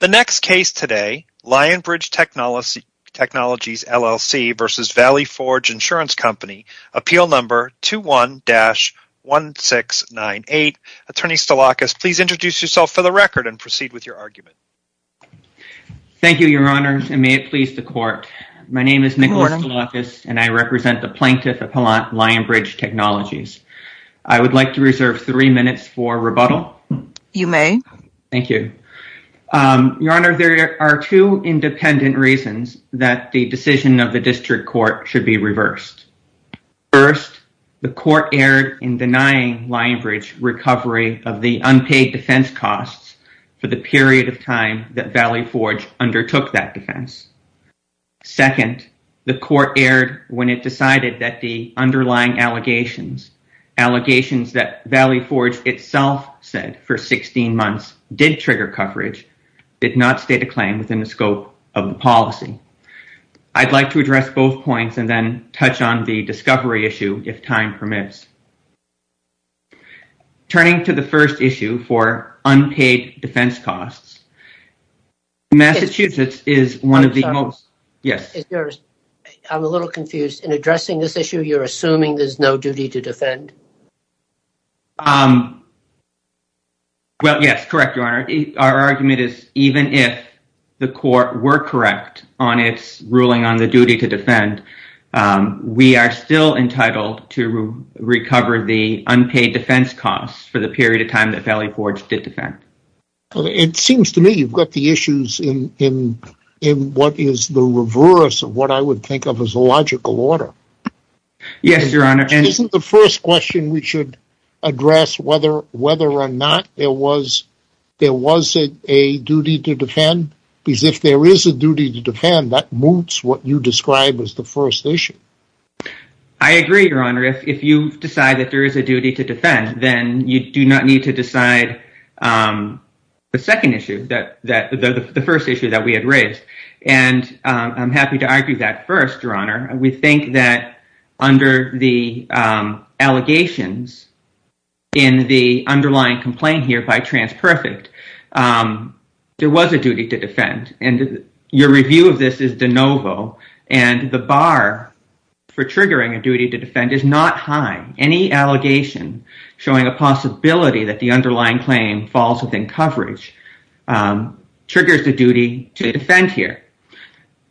The next case today, Lionbridge Technologies, LLC versus Valley Forge Insurance Company, appeal number 21-1698. Attorney Stolakis, please introduce yourself for the record and proceed with your argument. Thank you, your honors, and may it please the court. My name is Nicholas Stolakis, and I represent the Plaintiff Appellant, Lionbridge Technologies. I would like to reserve three minutes for rebuttal. You may. Thank you. Your honor, there are two independent reasons that the decision of the district court should be reversed. First, the court erred in denying Lionbridge recovery of the unpaid defense costs for the period of time that Valley Forge undertook that defense. Second, the court erred when it decided that the underlying allegations, allegations that Valley Forge itself said for 16 months did trigger coverage, did not state a claim within the scope of the policy. I'd like to address both points and then touch on the discovery issue, if time permits. Turning to the first issue for unpaid defense costs, Massachusetts is one of the most. Yes, it's yours. I'm a little confused. In addressing this issue, you're assuming there's no duty to defend? Well, yes, correct, your honor. Our argument is even if the court were correct on its ruling on the duty to defend, we are still entitled to recover the unpaid defense costs for the period of time that Valley Forge did defend. It seems to me you've got the issues in what is the reverse of what I would think of as a logical order. Yes, your honor. Isn't the first question we should address whether or not there was a duty to defend? Because if there is a duty to defend, that moots what you described as the first issue. I agree, your honor. If you decide that there is a duty to defend, then you do not need to decide the second issue, the first issue that we had raised. I'm happy to argue that first, we think that under the allegations in the underlying complaint here by TransPerfect, there was a duty to defend. And your review of this is de novo. And the bar for triggering a duty to defend is not high. Any allegation showing a possibility that the underlying claim falls within coverage triggers the duty to defend here.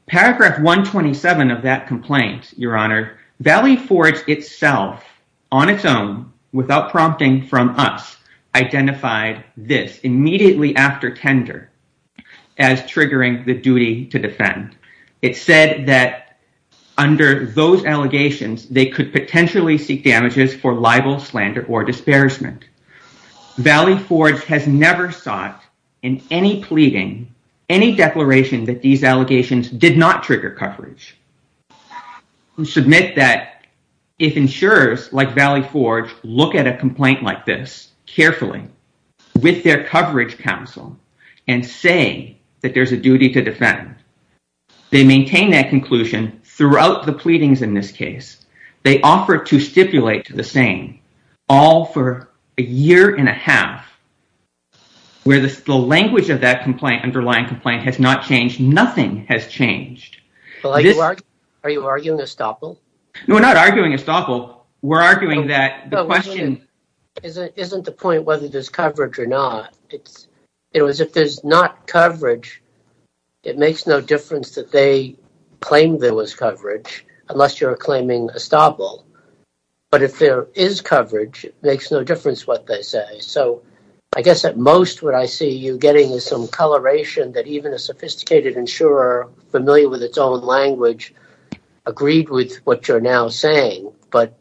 Paragraph 127 of that complaint, your honor, Valley Forge itself, on its own, without prompting from us, identified this immediately after tender as triggering the duty to defend. It said that under those allegations, they could potentially seek damages for libel, slander, or disparagement. Valley Forge has never sought in any pleading, any declaration that these allegations did not trigger coverage, who submit that if insurers like Valley Forge look at a complaint like this carefully with their coverage counsel and say that there's a duty to defend, they maintain that conclusion throughout the pleadings in this case. They offer to stipulate the same, all for a year and a half, where the language of that complaint, underlying complaint, has not changed. Nothing has changed. Are you arguing estoppel? No, we're not arguing estoppel. We're arguing that the question... Isn't the point whether there's coverage or not? It was if there's not coverage, it makes no difference that they claim there was coverage, unless you're claiming estoppel. But if there is coverage, it makes no difference what they say. So I guess at most what I see you getting is some coloration that even a sophisticated insurer familiar with its own language agreed with what you're now saying. But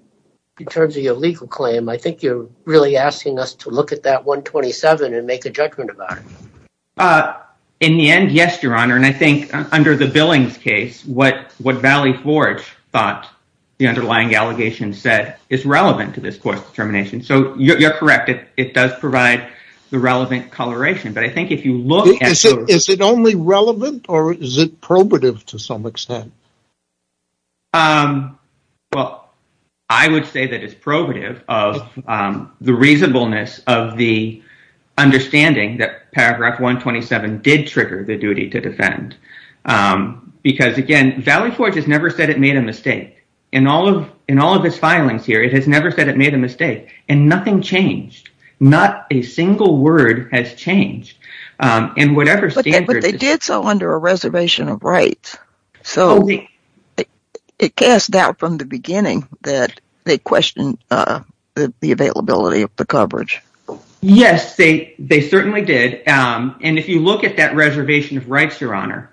in terms of your legal claim, I think you're really asking us to look at that 127 and make a judgment about it. In the end, yes, Your Honor. And I think under the Billings case, what Valley Forge thought the underlying allegation said is relevant to this court's determination. So you're correct, it does provide the relevant coloration. But I think if you look... Is it only relevant or is it probative to some extent? Well, I would say that it's probative of the reasonableness of the understanding that 127 did trigger the duty to defend. Because again, Valley Forge has never said it made a mistake. In all of his filings here, it has never said it made a mistake. And nothing changed. Not a single word has changed. And whatever standard... But they did so under a reservation of rights. So it cast doubt from the beginning that they questioned the availability of the coverage. Yes, they certainly did. And if you look at that reservation of rights, Your Honor,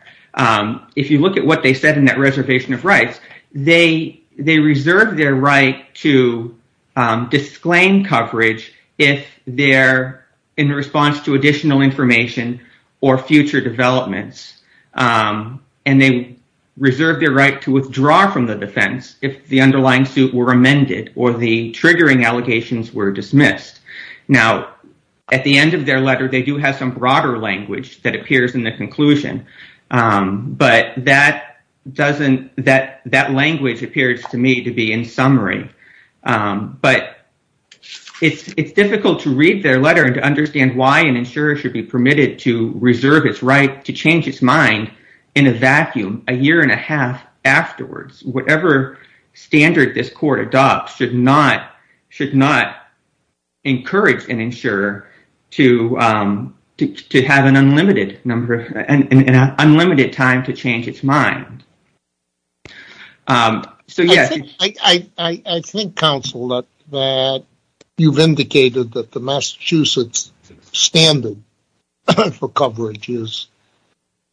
if you look at what they said in that reservation of rights, they reserve their right to disclaim coverage if they're in response to additional information or future developments. And they reserve their right to withdraw from the defense if the underlying suit were amended or the triggering allegations were dismissed. Now, at the end of their letter, they do have some broader language that appears in the conclusion. But that language appears to me to be in summary. But it's difficult to read their letter and to understand why an insurer should be permitted to reserve its right to change its mind in a vacuum a year and a half afterwards. Whatever standard this court adopts should not encourage an insurer to have an unlimited time to change its mind. I think, counsel, that you've indicated that the Massachusetts standard for coverage is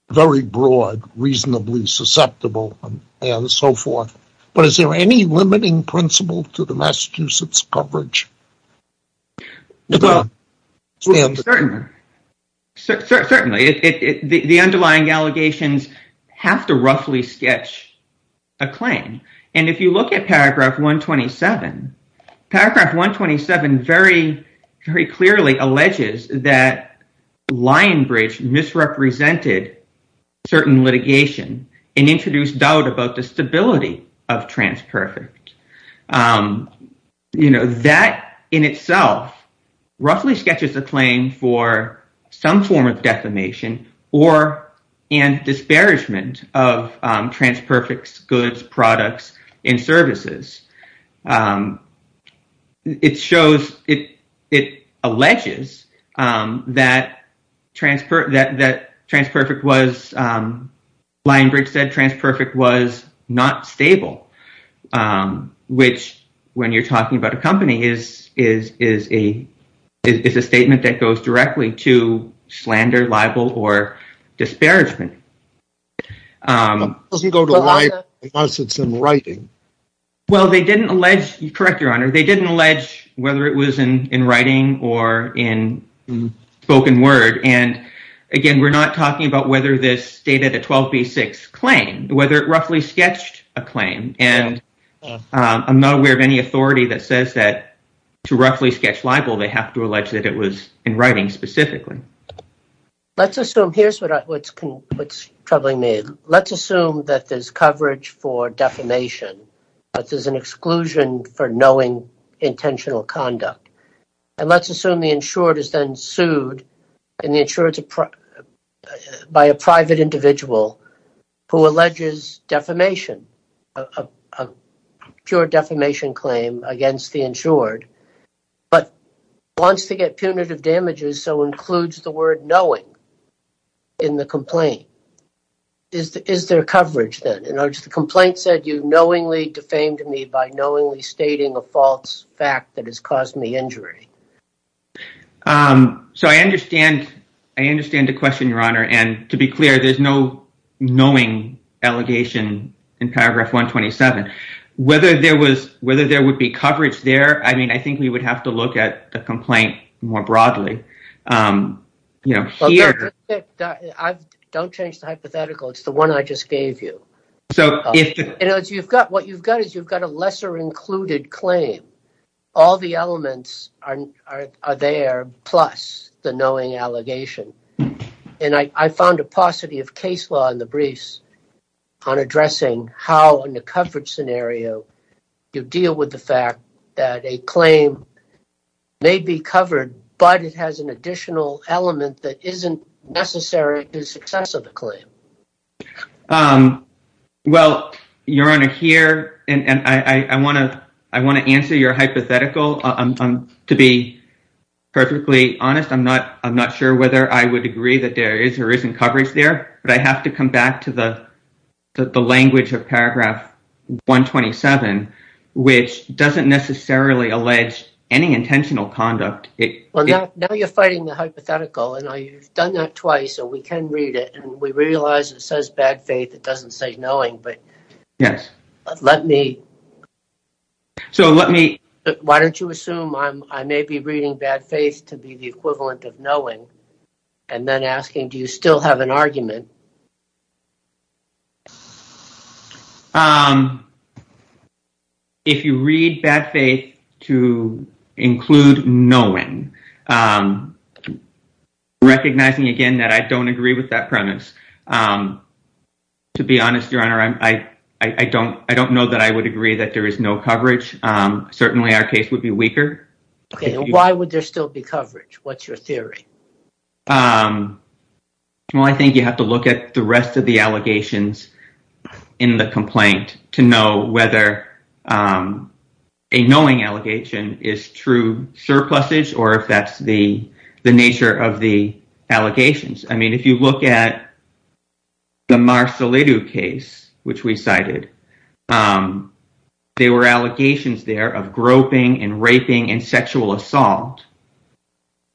very broad, reasonably susceptible, and so forth. But is there any limiting principle to the Massachusetts coverage? Well, certainly. The underlying allegations have to roughly sketch a claim. And if you look at paragraph 127, paragraph 127 very, very clearly alleges that Lionbridge misrepresented certain litigation and introduced doubt about the stability of TransPerfect. You know, that in itself roughly sketches a claim for some form of defamation and disparagement of TransPerfect's products and services. It shows, it alleges, that TransPerfect was, Lionbridge said, TransPerfect was not stable. Which, when you're talking about a company, is a statement that goes directly to slander, libel, or disparagement. It doesn't go to libel unless it's in writing. Well, they didn't allege, correct your honor, they didn't allege whether it was in writing or in spoken word. And again, we're not talking about whether this stated a 12b6 claim, whether it roughly sketched a claim. And I'm not aware of any authority that says that to roughly sketch libel, they have to allege that it was in writing specifically. Let's assume, here's what's troubling me, let's assume that there's coverage for defamation, but there's an exclusion for knowing intentional conduct. And let's assume the insured is then sued by a private individual who alleges defamation, a pure defamation claim against the insured, but wants to get punitive damages, so includes the word knowing in the complaint. Is there coverage then? In other words, the complaint said, you knowingly defamed me by knowingly stating a false fact that has caused me injury. So I understand, I understand the question, your honor. And to be clear, there's no allegation in paragraph 127. Whether there would be coverage there, I mean, I think we would have to look at the complaint more broadly. I don't change the hypothetical, it's the one I just gave you. What you've got is you've got a lesser included claim. All the elements are there, plus the case law in the briefs on addressing how, in the coverage scenario, you deal with the fact that a claim may be covered, but it has an additional element that isn't necessary to the success of the claim. Well, your honor, here, and I want to answer your hypothetical. To be perfectly honest, I'm not sure whether I would agree that there is or isn't coverage there, but I have to come back to the language of paragraph 127, which doesn't necessarily allege any intentional conduct. Well, now you're fighting the hypothetical, and I've done that twice, so we can read it. And we realize it says bad faith, it doesn't say knowing, but why don't you assume I may be reading bad faith to be the equivalent of knowing, and then asking, do you still have an argument? If you read bad faith to include knowing, recognizing, again, that I don't agree with that premise. To be honest, your honor, I don't know that I would agree that there is no coverage. Certainly, our case would be weaker. Okay, why would there still be coverage? What's your theory? Well, I think you have to look at the rest of the allegations in the complaint to know whether a knowing allegation is true surpluses, or if that's the case, which we cited. They were allegations there of groping and raping and sexual assault,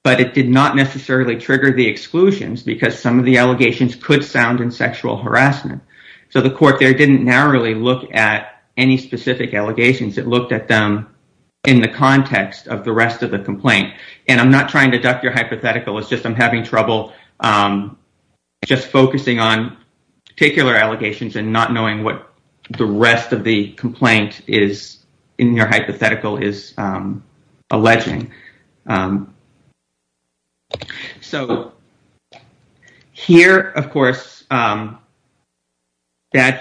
but it did not necessarily trigger the exclusions, because some of the allegations could sound in sexual harassment. So the court there didn't narrowly look at any specific allegations, it looked at them in the context of the rest of the complaint. And I'm not trying to duck your just focusing on particular allegations and not knowing what the rest of the complaint is in your hypothetical is alleging. So here, of course, bad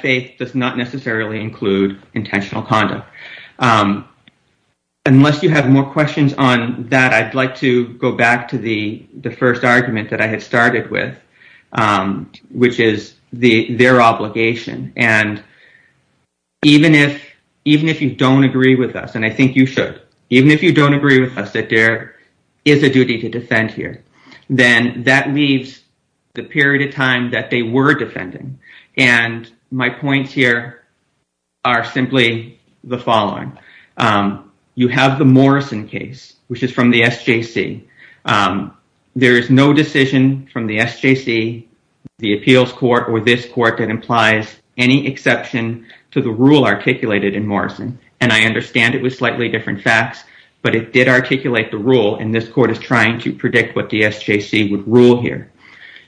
faith does not necessarily include intentional conduct. Unless you have more questions on that, I'd like to go back to the first argument that I had with, which is their obligation. And even if you don't agree with us, and I think you should, even if you don't agree with us that there is a duty to defend here, then that leaves the period of time that they were defending. And my points here are simply the following. You have the SJC, the appeals court, or this court that implies any exception to the rule articulated in Morrison. And I understand it was slightly different facts, but it did articulate the rule and this court is trying to predict what the SJC would rule here.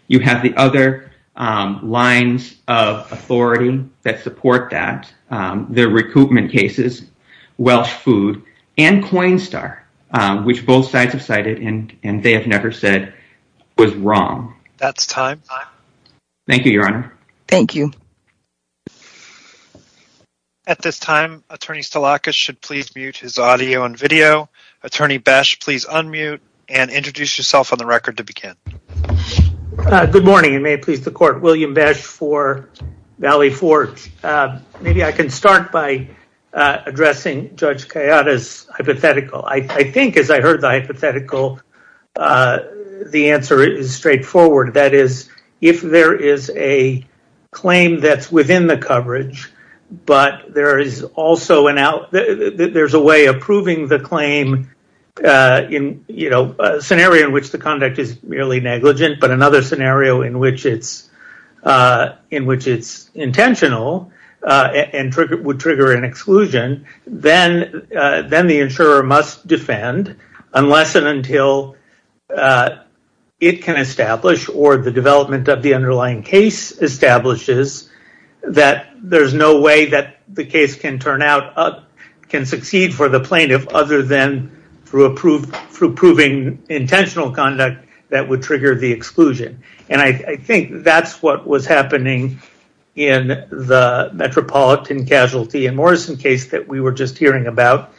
You have the other lines of authority that support that, their recoupment cases, Welsh Food and Coinstar, which both sides and they have never said was wrong. That's time. Thank you, Your Honor. Thank you. At this time, Attorney Stolakos should please mute his audio and video. Attorney Besh, please unmute and introduce yourself on the record to begin. Good morning and may it please the court. William Besh for Valley Forge. Maybe I can start by addressing Judge Kayada's hypothetical. I think as I heard the hypothetical, the answer is straightforward. That is, if there is a claim that's within the coverage, but there is also a way of proving the claim in a scenario in which the conduct is merely then the insurer must defend unless and until it can establish or the development of the underlying case establishes that there is no way that the case can turn out, can succeed for the plaintiff other than through proving intentional conduct that would trigger the exclusion. And I think that's what was happening in the Metropolitan Casualty and Morrison case that we were just hearing about,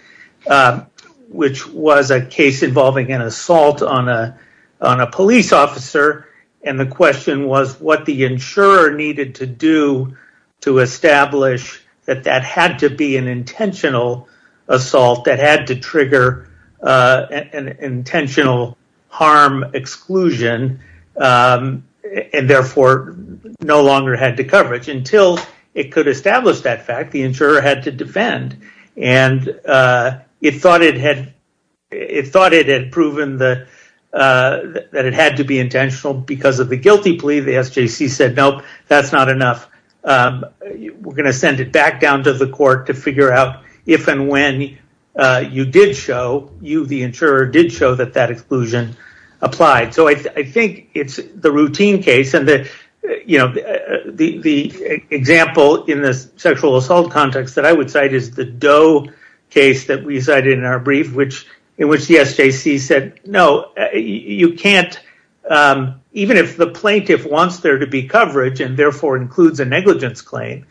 which was a case involving an assault on a police officer. And the question was what the insurer needed to do to establish that that had to be an intentional assault that no longer had the coverage. Until it could establish that fact, the insurer had to defend. And it thought it had proven that it had to be intentional because of the guilty plea. The SJC said, nope, that's not enough. We're going to send it back down to the court to figure out if and when you did show, you, the insurer, did show that that exclusion applied. So I think it's the routine case. And the example in the sexual assault context that I would cite is the Doe case that we cited in our brief in which the SJC said, no, you can't, even if the plaintiff wants there to be coverage and therefore includes a negligence claim,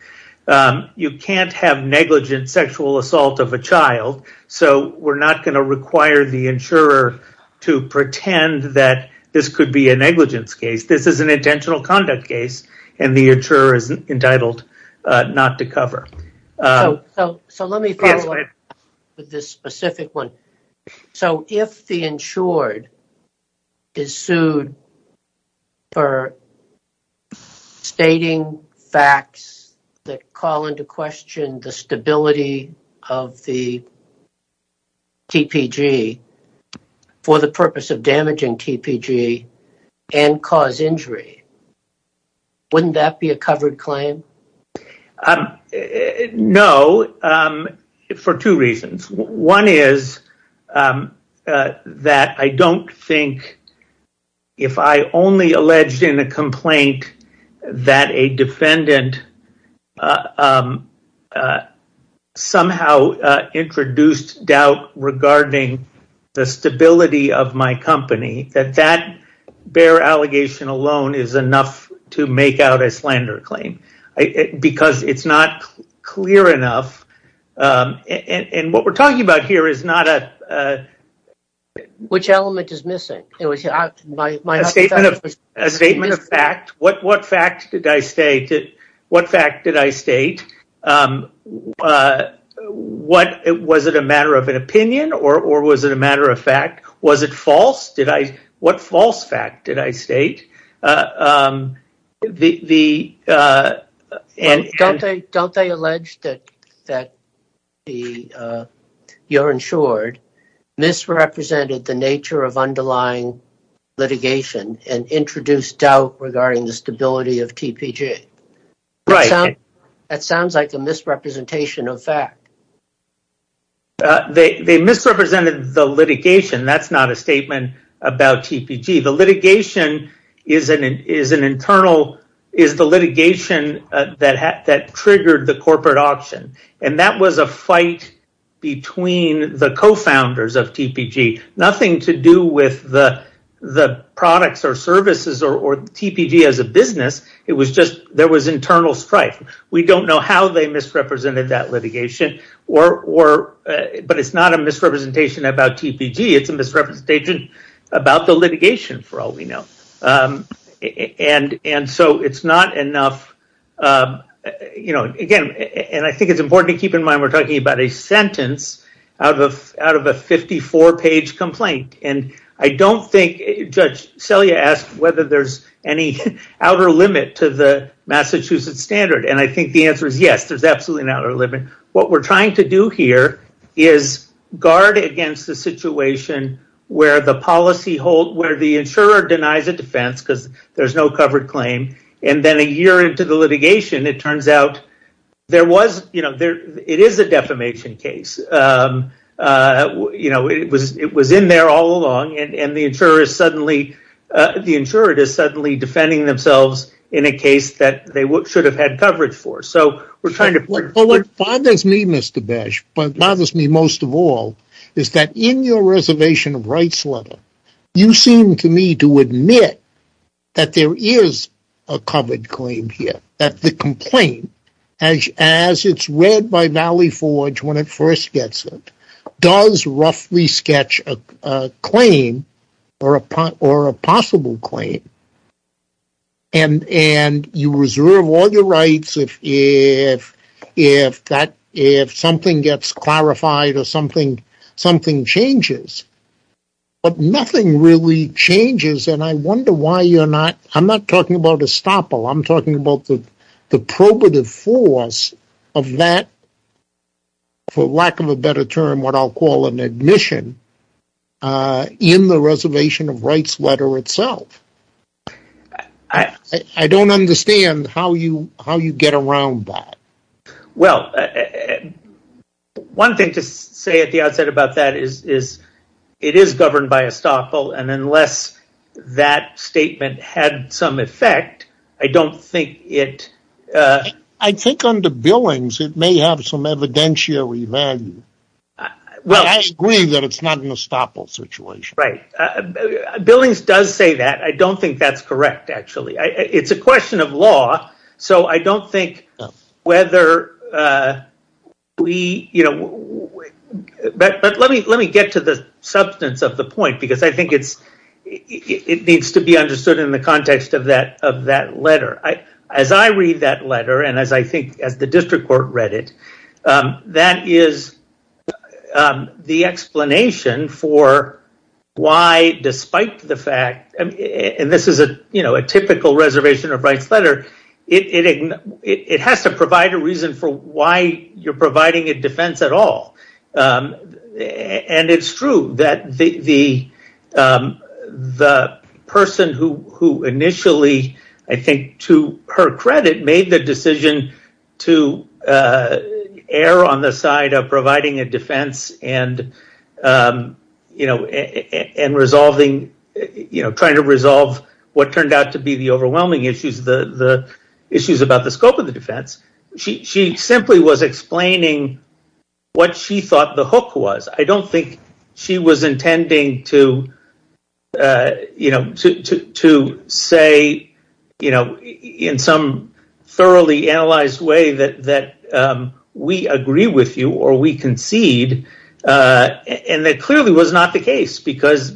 you can't have negligent sexual assault of a child. So we're not going to require the insurer to pretend that this could be a negligence case. This is an intentional conduct case and the insurer is entitled not to cover. So let me follow up with this specific one. So if the insured is sued for stating facts that call into question the stability of the TPG for the purpose of damaging TPG and cause injury, wouldn't that be a covered claim? No, for two reasons. One is that I don't think if I only alleged in a complaint that a defendant somehow introduced doubt regarding the stability of my company, that that bare allegation alone is enough to make out a slander claim because it's not clear enough. And what we're talking about here is not a... Which element is missing? A statement of fact. What fact did I state? Was it a matter of an opinion or was it a matter of fact? Was it false? What false fact did I state? Don't they allege that you're insured misrepresented the nature of underlying litigation and introduced doubt regarding the stability of TPG? That sounds like a misrepresentation of fact. They misrepresented the litigation. That's not a statement about TPG. The litigation is an internal litigation that triggered the corporate auction and that was a fight between the co-founders of TPG. Nothing to do with the products or services or TPG as a business. There was internal strife. We don't know how they misrepresented that litigation, but it's not a misrepresentation about TPG. It's a misrepresentation about the litigation for all we know. I think it's important to keep in mind we're talking about a sentence out of a 54-page complaint. Judge Selye asked whether there's any outer limit to the Massachusetts standard. I think the answer is yes, there's absolutely an outer limit. What we're trying to do here is guard against the situation where the insurer denies a defense because there's no covered claim. Then a year into the litigation, it turns out it is a defamation case. It was in there all along and the insurer is suddenly defending themselves in a case that they should have had coverage for. What bothers me most of all is that in your reservation of rights letter, you seem to me to admit that there is a covered claim here. That the complaint, as it's read by Valley Forge when it first gets it, does roughly sketch a claim or a possible claim. You reserve all your rights if if something gets clarified or something changes, but nothing really changes. I wonder why you're not, I'm not talking about estoppel, I'm talking about the probative force of that, for lack of a better term, what I'll call an admission in the reservation of rights letter itself. I don't understand how you get around that. Well, one thing to say at the outset about that is it is governed by estoppel and unless that statement had some effect, I don't think it... I think under Billings, it may have some evidentiary value. I agree that it's not an I don't think that's correct, actually. It's a question of law. Let me get to the substance of the point because I think it needs to be understood in the context of that letter. As I read that letter and as I think as the district court read it, that is the explanation for why despite the fact, and this is a typical reservation of rights letter, it has to provide a reason for why you're providing a defense at all. It's true that the person who initially, I think to her credit, made the decision to err on the side of providing a defense and trying to resolve what turned out to be the overwhelming issues about the scope of the defense, she simply was explaining what she thought the hook was. I don't think she was intending to say in some thoroughly analyzed way that we agree with you or we concede and that clearly was not the case because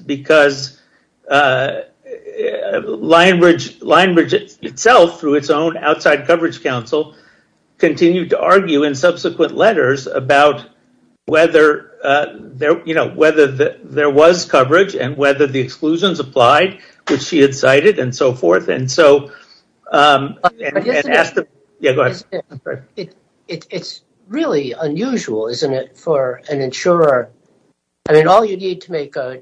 Lionbridge itself through its own outside coverage council continued to argue in subsequent letters about whether there was coverage and whether the exclusions applied which she had cited and so forth. It's really unusual, isn't it, for an insurer? All you need to make a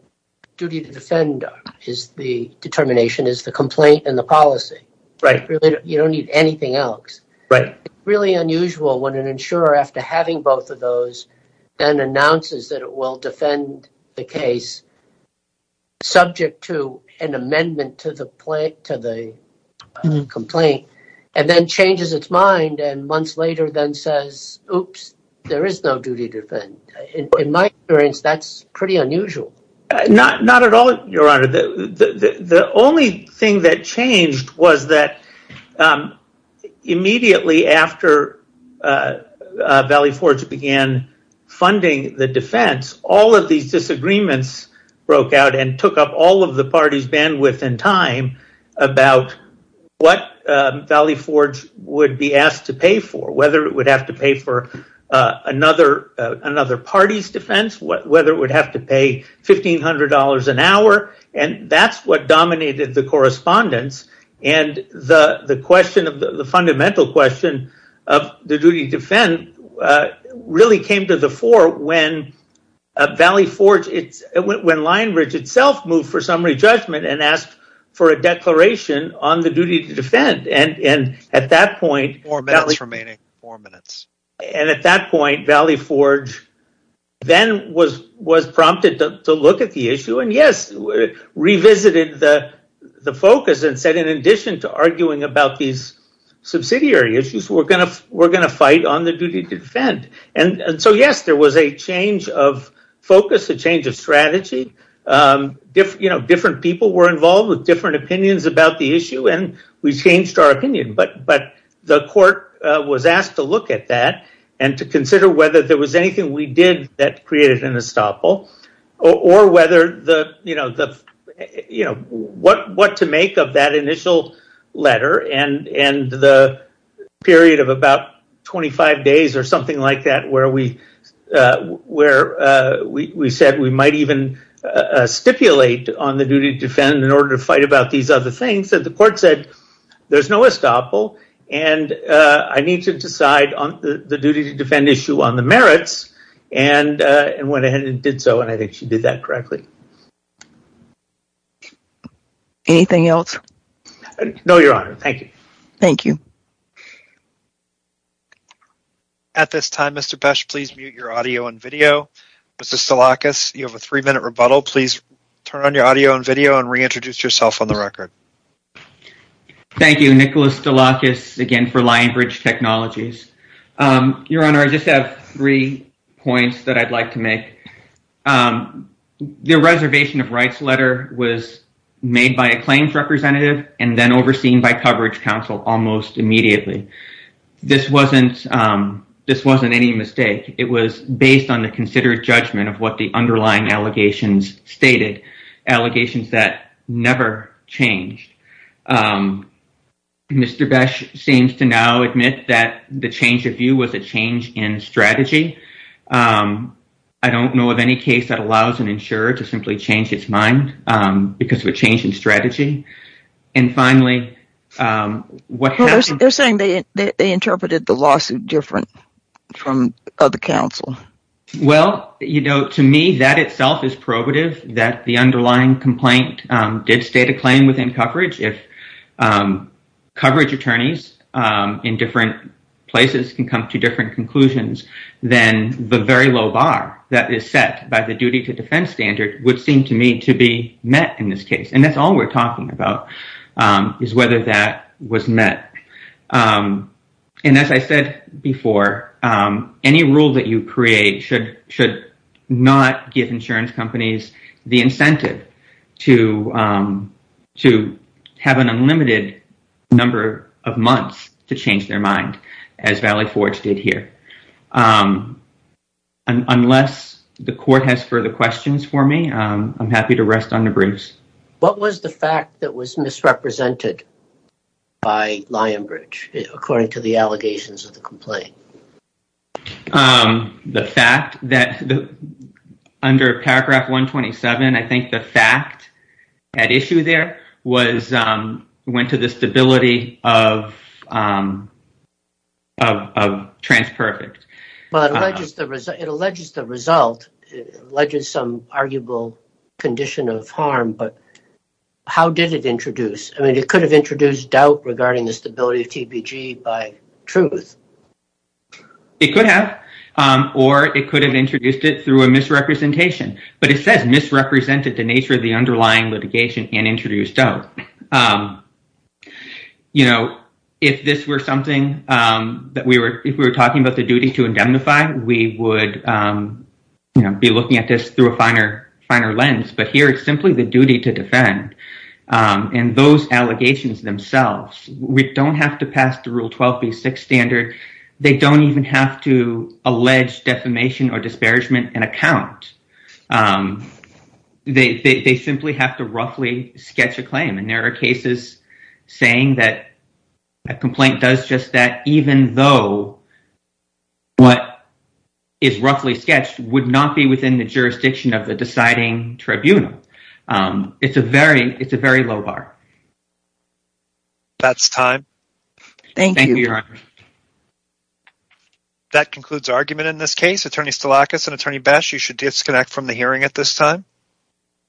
duty to defend is the determination, is the complaint and the policy. You don't need anything else. It's really unusual when an insurer after having both of those and announces that it will defend the case is subject to an amendment to the complaint and then changes its mind and months later then says, oops, there is no duty to defend. In my experience, that's pretty unusual. Not at all, your honor. The only thing that changed was that immediately after Valley Forge began funding the defense, all of these disagreements broke out and took up all of the party's bandwidth and time about what Valley Forge would be asked to pay for, whether it would have to pay for another party's defense, whether it would have to pay $1,500 an hour and that's what dominated the correspondence. The fundamental question of the duty to defend really came to the fore when Lion Ridge itself moved for summary judgment and asked for a declaration on the duty to defend. At that point, Valley Forge then was prompted to look at the focus and said, in addition to arguing about these subsidiary issues, we're going to fight on the duty to defend. Yes, there was a change of focus, a change of strategy. Different people were involved with different opinions about the issue and we changed our opinion, but the court was asked to look at that and to consider whether there was anything we did that created an estoppel or what to make of that initial letter and the period of about 25 days or something like that where we said we might even stipulate on the duty to defend in order to fight about these other things. The court said, there's no estoppel and I need to decide on the duty to defend issue on merits and went ahead and did so and I think she did that correctly. Anything else? No, your honor. Thank you. Thank you. At this time, Mr. Pesch, please mute your audio and video. Mr. Stolakis, you have a three-minute rebuttal. Please turn on your audio and video and reintroduce yourself on the record. Thank you. Nicholas Stolakis again for Lionbridge Technologies. Your honor, I just have three points that I'd like to make. The reservation of rights letter was made by a claims representative and then overseen by coverage counsel almost immediately. This wasn't any mistake. It was based on the considered judgment of what the underlying allegations stated, allegations that changed. Mr. Pesch seems to now admit that the change of view was a change in strategy. I don't know of any case that allows an insurer to simply change its mind because of a change in strategy. And finally, what they're saying, they interpreted the lawsuit different from other counsel. Well, you know, to me, that itself is probative that the underlying complaint did state a claim within coverage. If coverage attorneys in different places can come to different conclusions, then the very low bar that is set by the duty to defense standard would seem to me to be met in this case. And that's all we're talking about is whether that was met. And as I said before, any rule that you create should not give insurance companies the incentive to have an unlimited number of months to change their mind, as Valley Forge did here. Unless the court has further questions for me, I'm happy to rest on the bruise. What was the fact that was misrepresented by Lionbridge according to the allegations of the I think the fact at issue there went to the stability of TransPerfect. It alleges the result, alleges some arguable condition of harm, but how did it introduce? I mean, it could have introduced doubt regarding the stability of TBG by truth. It could have, or it could have introduced it through a misrepresentation, but it says misrepresented the nature of the underlying litigation and introduced doubt. You know, if this were something that we were, if we were talking about the duty to indemnify, we would be looking at this through a finer lens, but here it's simply the duty to defend. And those allegations themselves, we don't have to pass the Rule 12b6 standard. They don't even have to allege defamation or disparagement and account. They simply have to roughly sketch a claim, and there are cases saying that a complaint does just that even though what is roughly sketched would not be within the jurisdiction of the deciding tribunal. It's a very, it's a very low bar. That's time. Thank you, Your Honor. That concludes argument in this case. Attorney Stilakis and Attorney Bess, you should disconnect from the hearing at this time.